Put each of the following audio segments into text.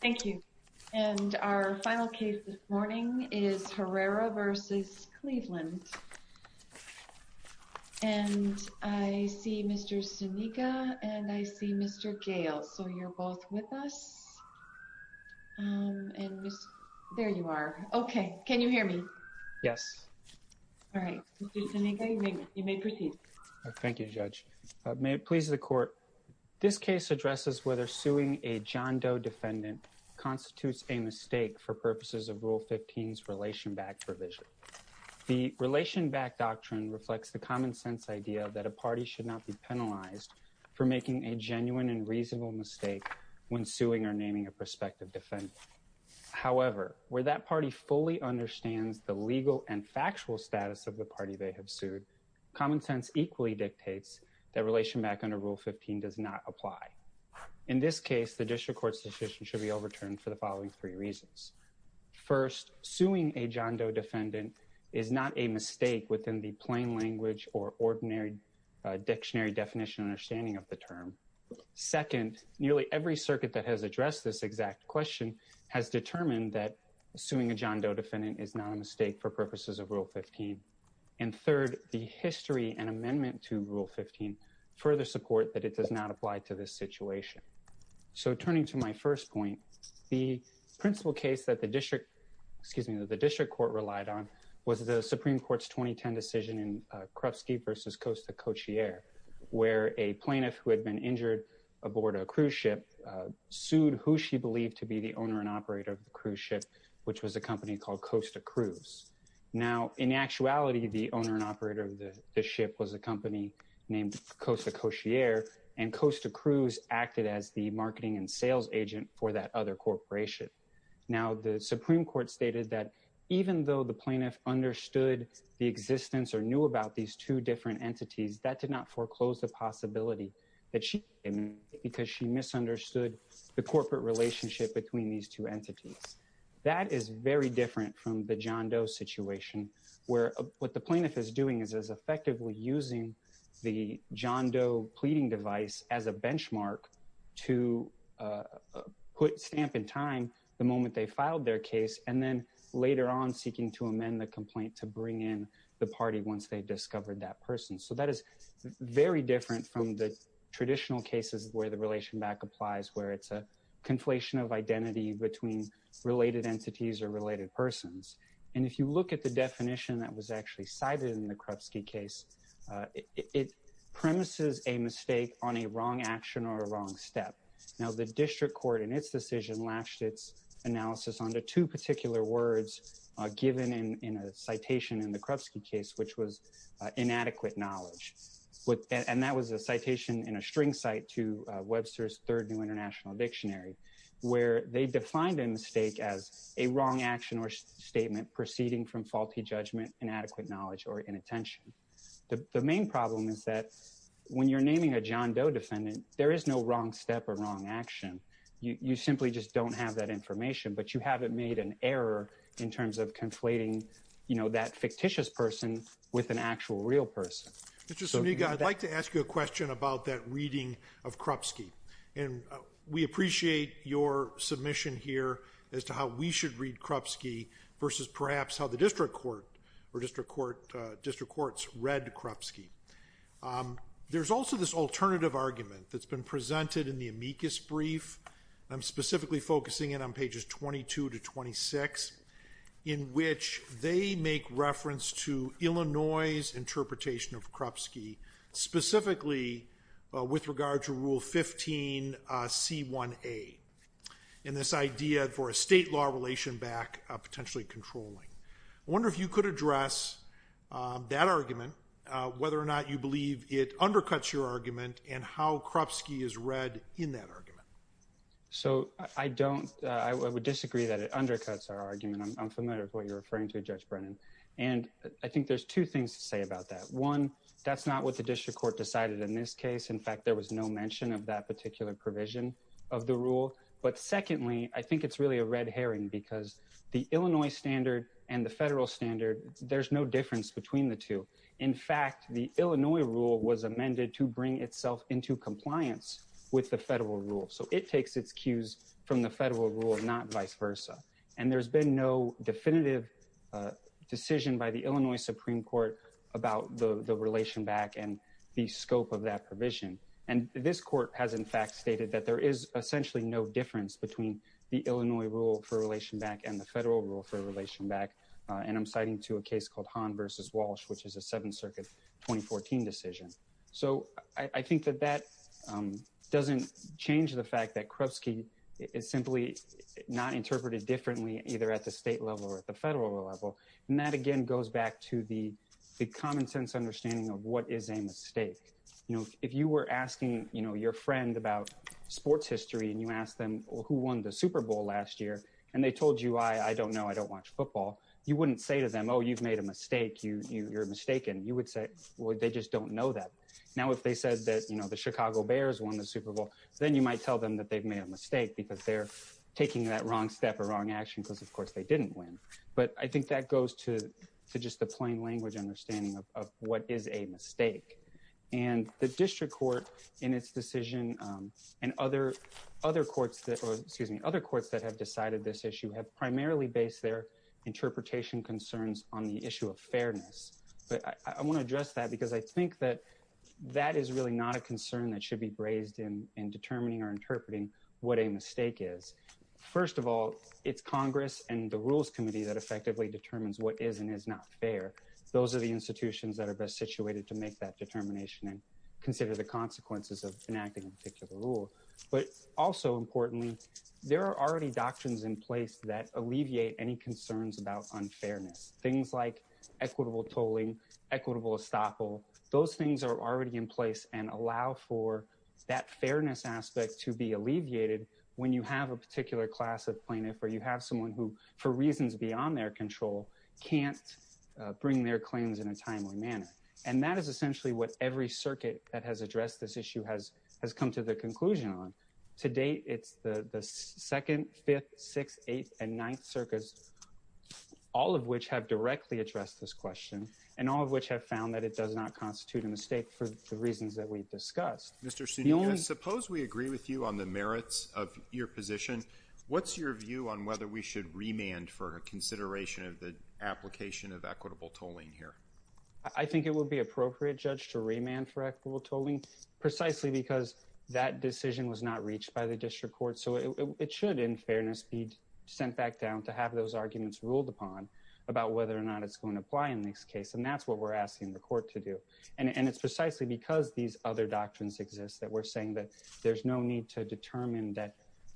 Thank you and our final case this morning is Herrera v. Cleveland and I see Mr. Seneca and I see Mr. Gale so you're both with us and there you are okay can you hear me yes all right you may proceed thank you judge may it is the court this case addresses whether suing a John Doe defendant constitutes a mistake for purposes of rule 15's relation back provision the relation back doctrine reflects the common-sense idea that a party should not be penalized for making a genuine and reasonable mistake when suing or naming a prospective defendant however where that party fully understands the legal and factual status of the party they have sued common sense equally dictates that relation back under rule 15 does not apply in this case the district court's decision should be overturned for the following three reasons first suing a John Doe defendant is not a mistake within the plain language or ordinary dictionary definition understanding of the term second nearly every circuit that has addressed this exact question has determined that suing a John Doe defendant is not a mistake for purposes of rule 15 and third the history and amendment to rule 15 further support that it does not apply to this situation so turning to my first point the principal case that the district excuse me that the district court relied on was the Supreme Court's 2010 decision in Krupsky versus Costa Cochier where a plaintiff who had been injured aboard a cruise ship sued who she believed to be the owner and operator of the cruise ship which was a company called Costa Cruz now in actuality the owner and operator of the ship was a company named Costa Cochier and Costa Cruz acted as the marketing and sales agent for that other corporation now the Supreme Court stated that even though the plaintiff understood the existence or knew about these two different entities that did not foreclose the possibility that she because she misunderstood the corporate relationship between these two entities that is very different from the John Doe situation where what the plaintiff is doing is as effectively using the John Doe pleading device as a benchmark to put stamp in time the moment they filed their case and then later on seeking to amend the complaint to bring in the party once they discovered that person so that is very different from the traditional cases where the relation back applies where it's a conflation of identity between related entities or related persons and if you look at the definition that was actually cited in the Krupsky case it premises a mistake on a wrong action or a wrong step now the district court in its decision latched its analysis under two particular words given in in a citation in the Krupsky case which was inadequate knowledge what and that was a dictionary where they defined a mistake as a wrong action or statement proceeding from faulty judgment inadequate knowledge or inattention the main problem is that when you're naming a John Doe defendant there is no wrong step or wrong action you simply just don't have that information but you haven't made an error in terms of conflating you know that fictitious person with an actual real person I'd like to ask you a question about that we appreciate your submission here as to how we should read Krupsky versus perhaps how the district court or district court district courts read Krupsky there's also this alternative argument that's been presented in the amicus brief I'm specifically focusing in on pages 22 to 26 in which they make reference to Illinois's interpretation of Krupsky specifically with regard to rule 15 c1a in this idea for a state law relation back potentially controlling wonder if you could address that argument whether or not you believe it undercuts your argument and how Krupsky is read in that argument so I don't I would disagree that it undercuts our argument I'm familiar with what you're referring to judge Brennan and I think there's two things to say about that one that's not what the district court decided in this case in fact there was no mention of that particular provision of the rule but secondly I think it's really a red herring because the Illinois standard and the federal standard there's no difference between the two in fact the Illinois rule was amended to bring itself into compliance with the federal rule so it takes its cues from the federal rule not vice versa and there's been no definitive decision by the Illinois Supreme Court about the the relation back and the this court has in fact stated that there is essentially no difference between the Illinois rule for relation back and the federal rule for relation back and I'm citing to a case called Han versus Walsh which is a Seventh Circuit 2014 decision so I think that that doesn't change the fact that Krupsky is simply not interpreted differently either at the state level or at the federal level and that again goes back to the the common-sense understanding of what is a mistake you know if you were asking you know your friend about sports history and you ask them who won the Super Bowl last year and they told you I don't know I don't watch football you wouldn't say to them oh you've made a mistake you you're mistaken you would say well they just don't know that now if they said that you know the Chicago Bears won the Super Bowl then you might tell them that they've made a mistake because they're taking that wrong step or wrong action because of course they didn't win but I think that goes to just the plain language understanding of what is a mistake and the district court in its decision and other other courts that or excuse me other courts that have decided this issue have primarily based their interpretation concerns on the issue of fairness but I want to address that because I think that that is really not a concern that should be braised in in determining or interpreting what a mistake is first of all it's Congress and the Rules Committee that effectively determines what is and is not fair those are the institutions that are best situated to make that determination and consider the consequences of enacting a particular rule but also importantly there are already doctrines in place that alleviate any concerns about unfairness things like equitable tolling equitable estoppel those things are already in place and allow for that fairness aspect to be alleviated when you have a particular class of plaintiff or you can't bring their claims in a timely manner and that is essentially what every circuit that has addressed this issue has has come to the conclusion on today it's the the second fifth sixth eighth and ninth circus all of which have directly addressed this question and all of which have found that it does not constitute a mistake for the reasons that we've discussed mr. Sunil suppose we agree with you on the merits of your position what's your view on whether we should remand for a consideration of the application of equitable tolling here I think it would be appropriate judge to remand for equitable tolling precisely because that decision was not reached by the district court so it should in fairness be sent back down to have those arguments ruled upon about whether or not it's going to apply in this case and that's what we're asking the court to do and and it's precisely because these other doctrines exist that we're saying that there's no need to determine that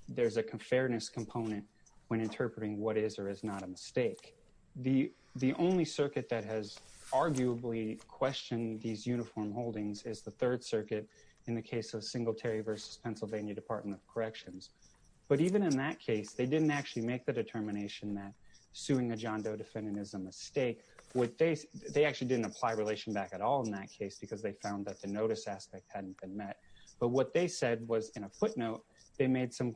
there's a fairness component when interpreting what is or is not a mistake the the only circuit that has arguably questioned these uniform holdings is the Third Circuit in the case of Singletary versus Pennsylvania Department of Corrections but even in that case they didn't actually make the determination that suing a John Doe defendant is a mistake what they they actually didn't apply relation back at all in that case because they found that the notice aspect hadn't been met but what they said was in a footnote they made some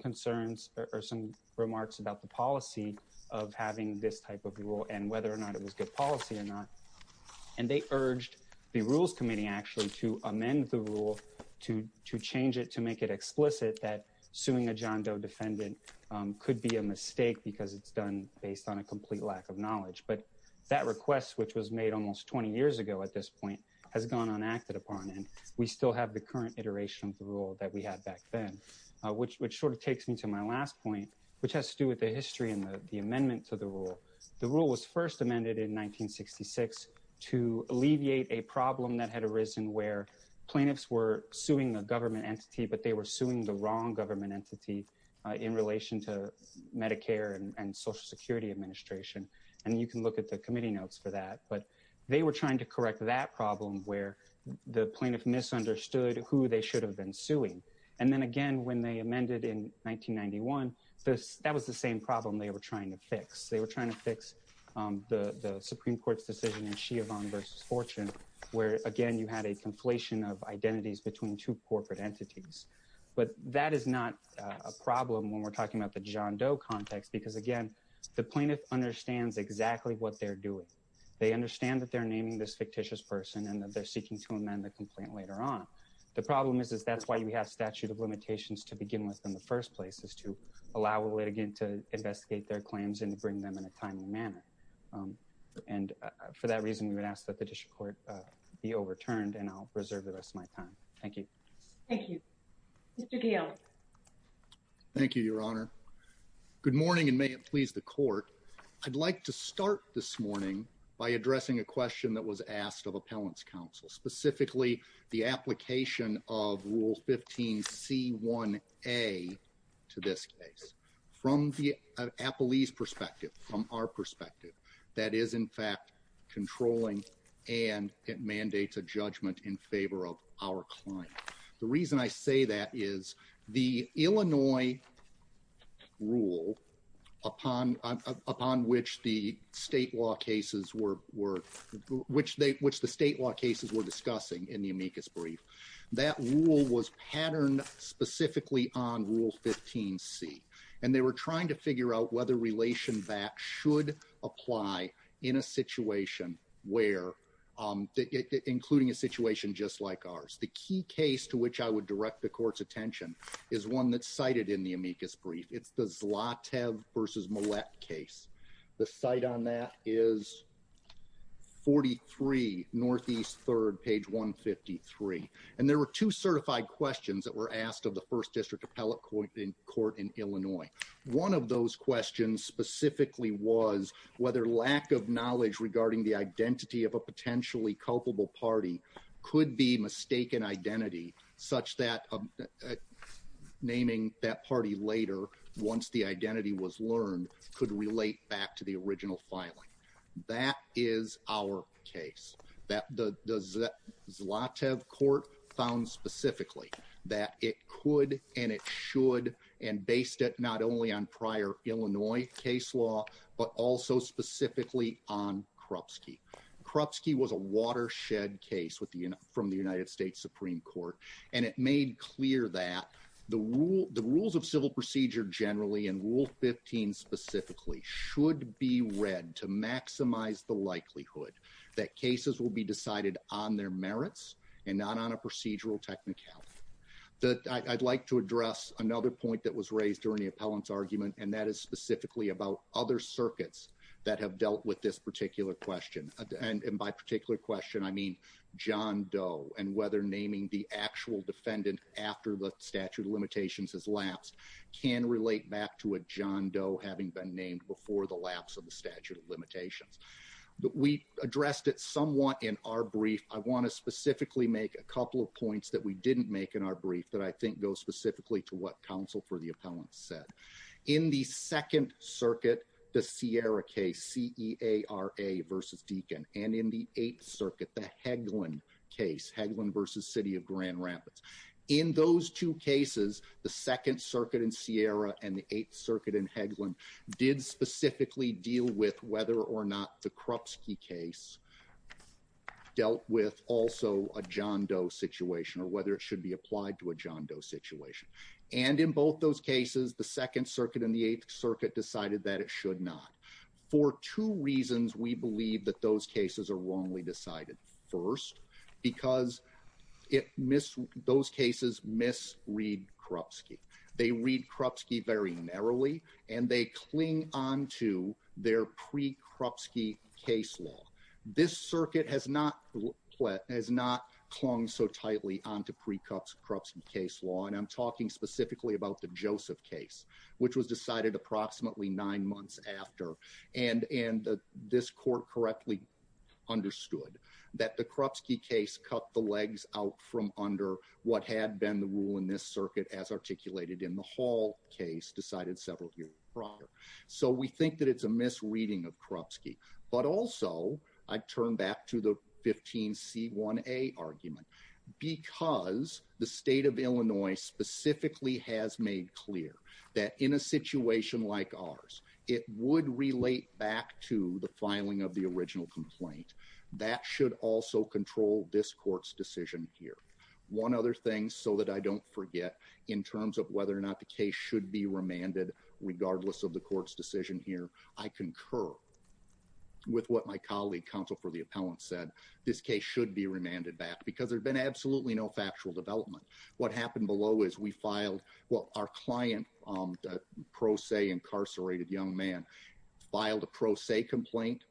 remarks about the policy of having this type of rule and whether or not it was good policy or not and they urged the Rules Committee actually to amend the rule to to change it to make it explicit that suing a John Doe defendant could be a mistake because it's done based on a complete lack of knowledge but that request which was made almost 20 years ago at this point has gone unacted upon and we still have the current iteration of the rule that we had back then which sort of takes me to my last point which has to do with the history and the amendment to the rule the rule was first amended in 1966 to alleviate a problem that had arisen where plaintiffs were suing the government entity but they were suing the wrong government entity in relation to Medicare and Social Security Administration and you can look at the committee notes for that but they were trying to correct that problem where the plaintiff misunderstood who they should have been suing and then again when they amended in 1991 this that was the same problem they were trying to fix they were trying to fix the the Supreme Court's decision in Chiavon versus Fortune where again you had a conflation of identities between two corporate entities but that is not a problem when we're talking about the John Doe context because again the plaintiff understands exactly what they're doing they understand that they're naming this fictitious person and that they're seeking to amend the problem is is that's why you have statute of limitations to begin with in the first place is to allow a litigant to investigate their claims and to bring them in a timely manner and for that reason we would ask that the district court be overturned and I'll preserve the rest of my time thank you thank you thank you your honor good morning and may it please the court I'd like to start this morning by addressing a question that was asked of Appellants Council specifically the application of rule 15 c1a to this case from the Apple ease perspective from our perspective that is in fact controlling and it mandates a judgment in favor of our client the reason I say that is the Illinois rule upon upon which the state law cases were were which they which the state law cases were discussing in the amicus brief that rule was patterned specifically on rule 15 C and they were trying to figure out whether relation back should apply in a situation where including a situation just like ours the key case to which I would direct the court's attention is one that's cited in the amicus brief it's the Zlatev versus Millett case the site on that is 43 Northeast third page 153 and there were two certified questions that were asked of the first district appellate court in court in Illinois one of those questions specifically was whether lack of knowledge regarding the identity of a potentially culpable party could be mistaken identity such that naming that party later once the identity was learned could relate back to the Zlatev court found specifically that it could and it should and based it not only on prior Illinois case law but also specifically on Krupsky Krupsky was a watershed case with the unit from the United States Supreme Court and it made clear that the rule the rules of civil procedure generally and rule 15 specifically should be read to maximize the likelihood that cases will be decided on their merits and not on a procedural technicality that I'd like to address another point that was raised during the appellant's argument and that is specifically about other circuits that have dealt with this particular question and by particular question I mean John Doe and whether naming the actual defendant after the statute of limitations has lapsed can relate back to a John Doe having been named before the lapse of the statute of limitations but we addressed it somewhat in our brief I want to specifically make a couple of points that we didn't make in our brief that I think goes specifically to what counsel for the appellant said in the Second Circuit the Sierra case CEA are a versus Deakin and in the Eighth Circuit the Hagelin case Hagelin versus City of Grand Rapids in those two cases the Second Circuit in Sierra and the Eighth Circuit in Hagelin did specifically deal with whether or not the Krupsky case dealt with also a John Doe situation or whether it should be applied to a John Doe situation and in both those cases the Second Circuit in the Eighth Circuit decided that it should not for two reasons we believe that those cases are wrongly decided first because it missed those cases miss read Krupsky they read Krupsky very narrowly and they cling on to their pre Krupsky case law this circuit has not what has not clung so tightly on to pre cups Krupsky case law and I'm talking specifically about the Joseph case which was decided approximately nine months after and and this court correctly understood that the Krupsky case cut the legs out from under what had been the rule in this circuit as articulated in the Hall case decided several years prior so we think that it's a misreading of Krupsky but also I turn back to the 15 c1a argument because the state of Illinois specifically has made clear that in a situation like ours it would relate back to the filing of the original complaint that should also control this court's decision here one other thing so that I don't forget in terms of whether or not the case should be remanded regardless of the court's decision here I concur with what my colleague counsel for the appellant said this case should be remanded back because there's been absolutely no factual development what happened below is we filed what our client on the pro se incarcerated young man filed a pro se complaint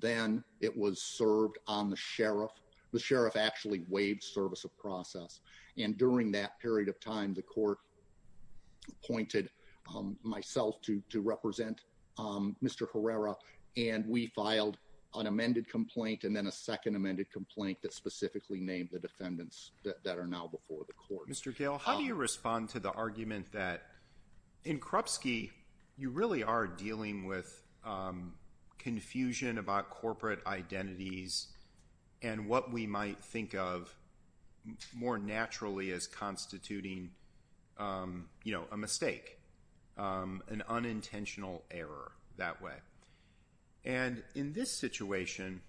then it was served on the sheriff the sheriff actually waived service of process and during that period of time the court appointed myself to represent mr. Herrera and we filed an amended complaint and then a second amended complaint that specifically named the defendants that are now before the court mr. Gale how do you respond to the argument that in Krupsky you really are dealing with confusion about corporate identities and what we might think of more naturally as constituting you know a mistake an unintentional error that way and in this situation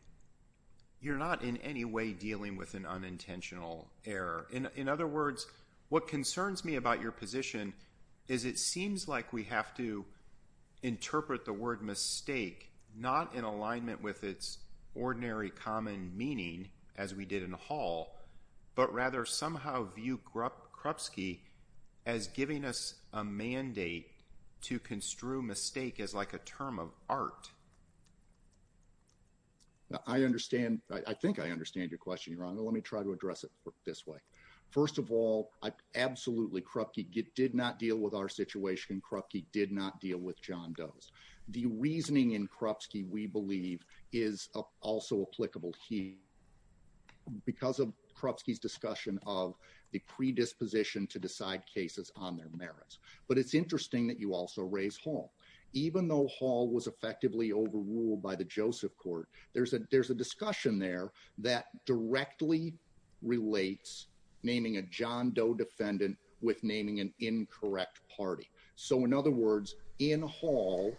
you're not in any way dealing with an unintentional error in other words what concerns me about your position is it seems like we have to interpret the word mistake not in as we did in the hall but rather somehow view Krupsky as giving us a mandate to construe mistake as like a term of art I understand I think I understand your question you're on let me try to address it this way first of all I absolutely Krupsky did not deal with our situation Krupsky did not deal with John does the reasoning in Krupsky we believe is also applicable he because of Krupsky's discussion of the predisposition to decide cases on their merits but it's interesting that you also raise Hall even though Hall was effectively overruled by the Joseph court there's a there's a discussion there that directly relates naming a John Doe defendant with naming an incorrect party so in other words in Hall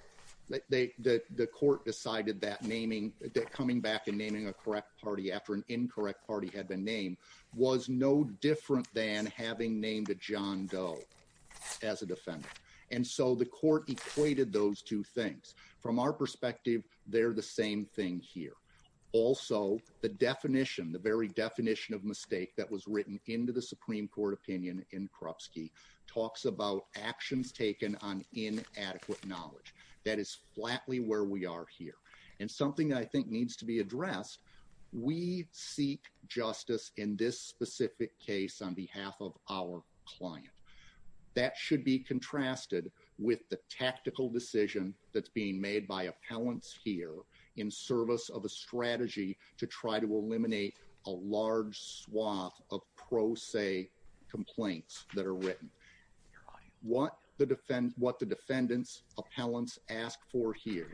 they the court decided that naming that coming back and naming a correct party after an incorrect party had been named was no different than having named a John Doe as a defendant and so the court equated those two things from our perspective they're the same thing here also the definition the very definition of mistake that was written into the about actions taken on inadequate knowledge that is flatly where we are here and something that I think needs to be addressed we seek justice in this specific case on behalf of our client that should be contrasted with the tactical decision that's being made by appellants here in service of a strategy to try to eliminate a large swath of pro se complaints that are written what the defend what the defendants appellants asked for here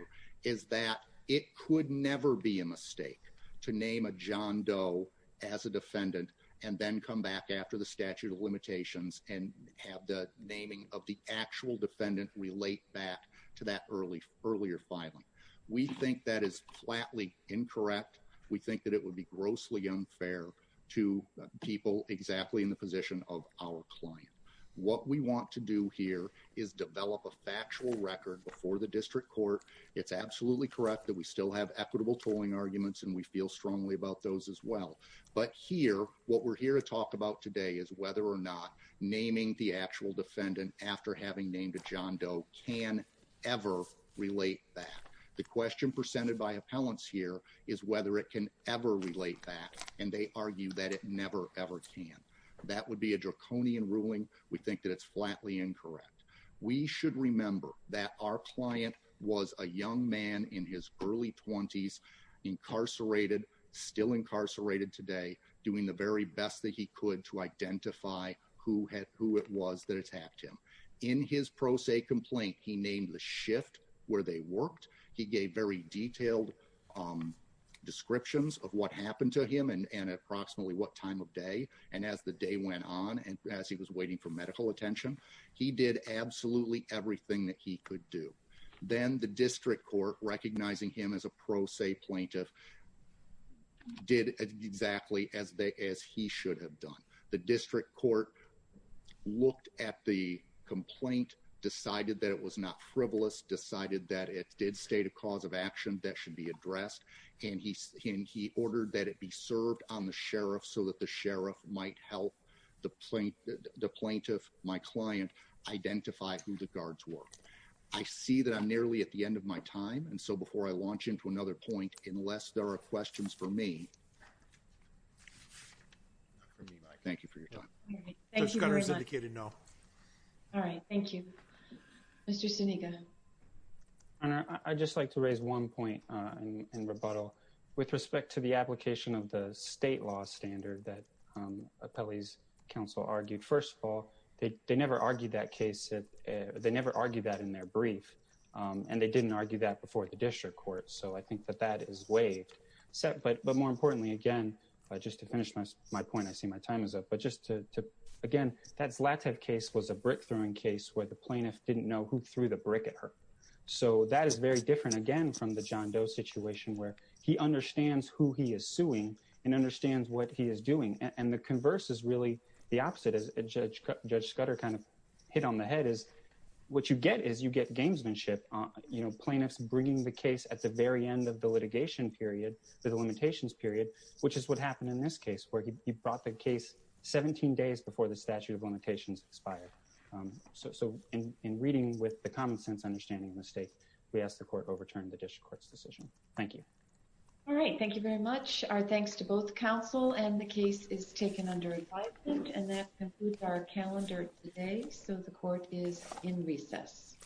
is that it could never be a mistake to name a John Doe as a defendant and then come back after the statute of limitations and have the naming of the actual defendant relate back to that early earlier filing we think that is flatly incorrect we think that it would be grossly unfair to people exactly in the position of our client what we want to do here is develop a factual record before the district court it's absolutely correct that we still have equitable tolling arguments and we feel strongly about those as well but here what we're here to talk about today is whether or not naming the actual defendant after having named a John Doe can ever relate back the question presented by appellants here is whether it can ever relate back and they argue that it never ever can that would be a draconian ruling we think that it's flatly incorrect we should remember that our client was a young man in his early 20s incarcerated still incarcerated today doing the very best that he could to identify who had who it was that attacked him in his pro se complaint he named the shift where they worked he gave very detailed descriptions of what happened to him and and approximately what time of day and as the day went on and as he was waiting for medical attention he did absolutely everything that he could do then the district court recognizing him as a pro se plaintiff did exactly as they as he should have done the district court looked at the complaint decided that it was not frivolous decided that it did state a cause of action that should be addressed and he's in he ordered that it be served on the sheriff so that the sheriff might help the plaintiff the plaintiff my client identify who the guards were I see that I'm nearly at the end of my time and so before I launch into another point unless there are questions for me I just like to raise one point in rebuttal with respect to the application of the state law standard that appellees counsel argued first of all they never argued that case that they never argued that in their brief and they didn't argue that before the district court so I think that that is waived except but but more importantly again just to finish my point I see my time is up but just to again that's Latif case was a brick-throwing case where the plaintiff didn't know who threw the brick at her so that is very different again from the John Doe situation where he understands who he is suing and understands what he is doing and the converse is really the opposite as a judge judge Scudder kind of hit on the head is what you get is you get gamesmanship on you know plaintiffs bringing the case at the very end of the litigation period the limitations period which is what happened in this case where he brought the case 17 days before the statute of limitations expired so in in reading with the common-sense understanding of the state we asked the court overturned the district court's decision thank you all right thank you very much our thanks to both counsel and the case is taken under advisement and that concludes our calendar today so the court is in recess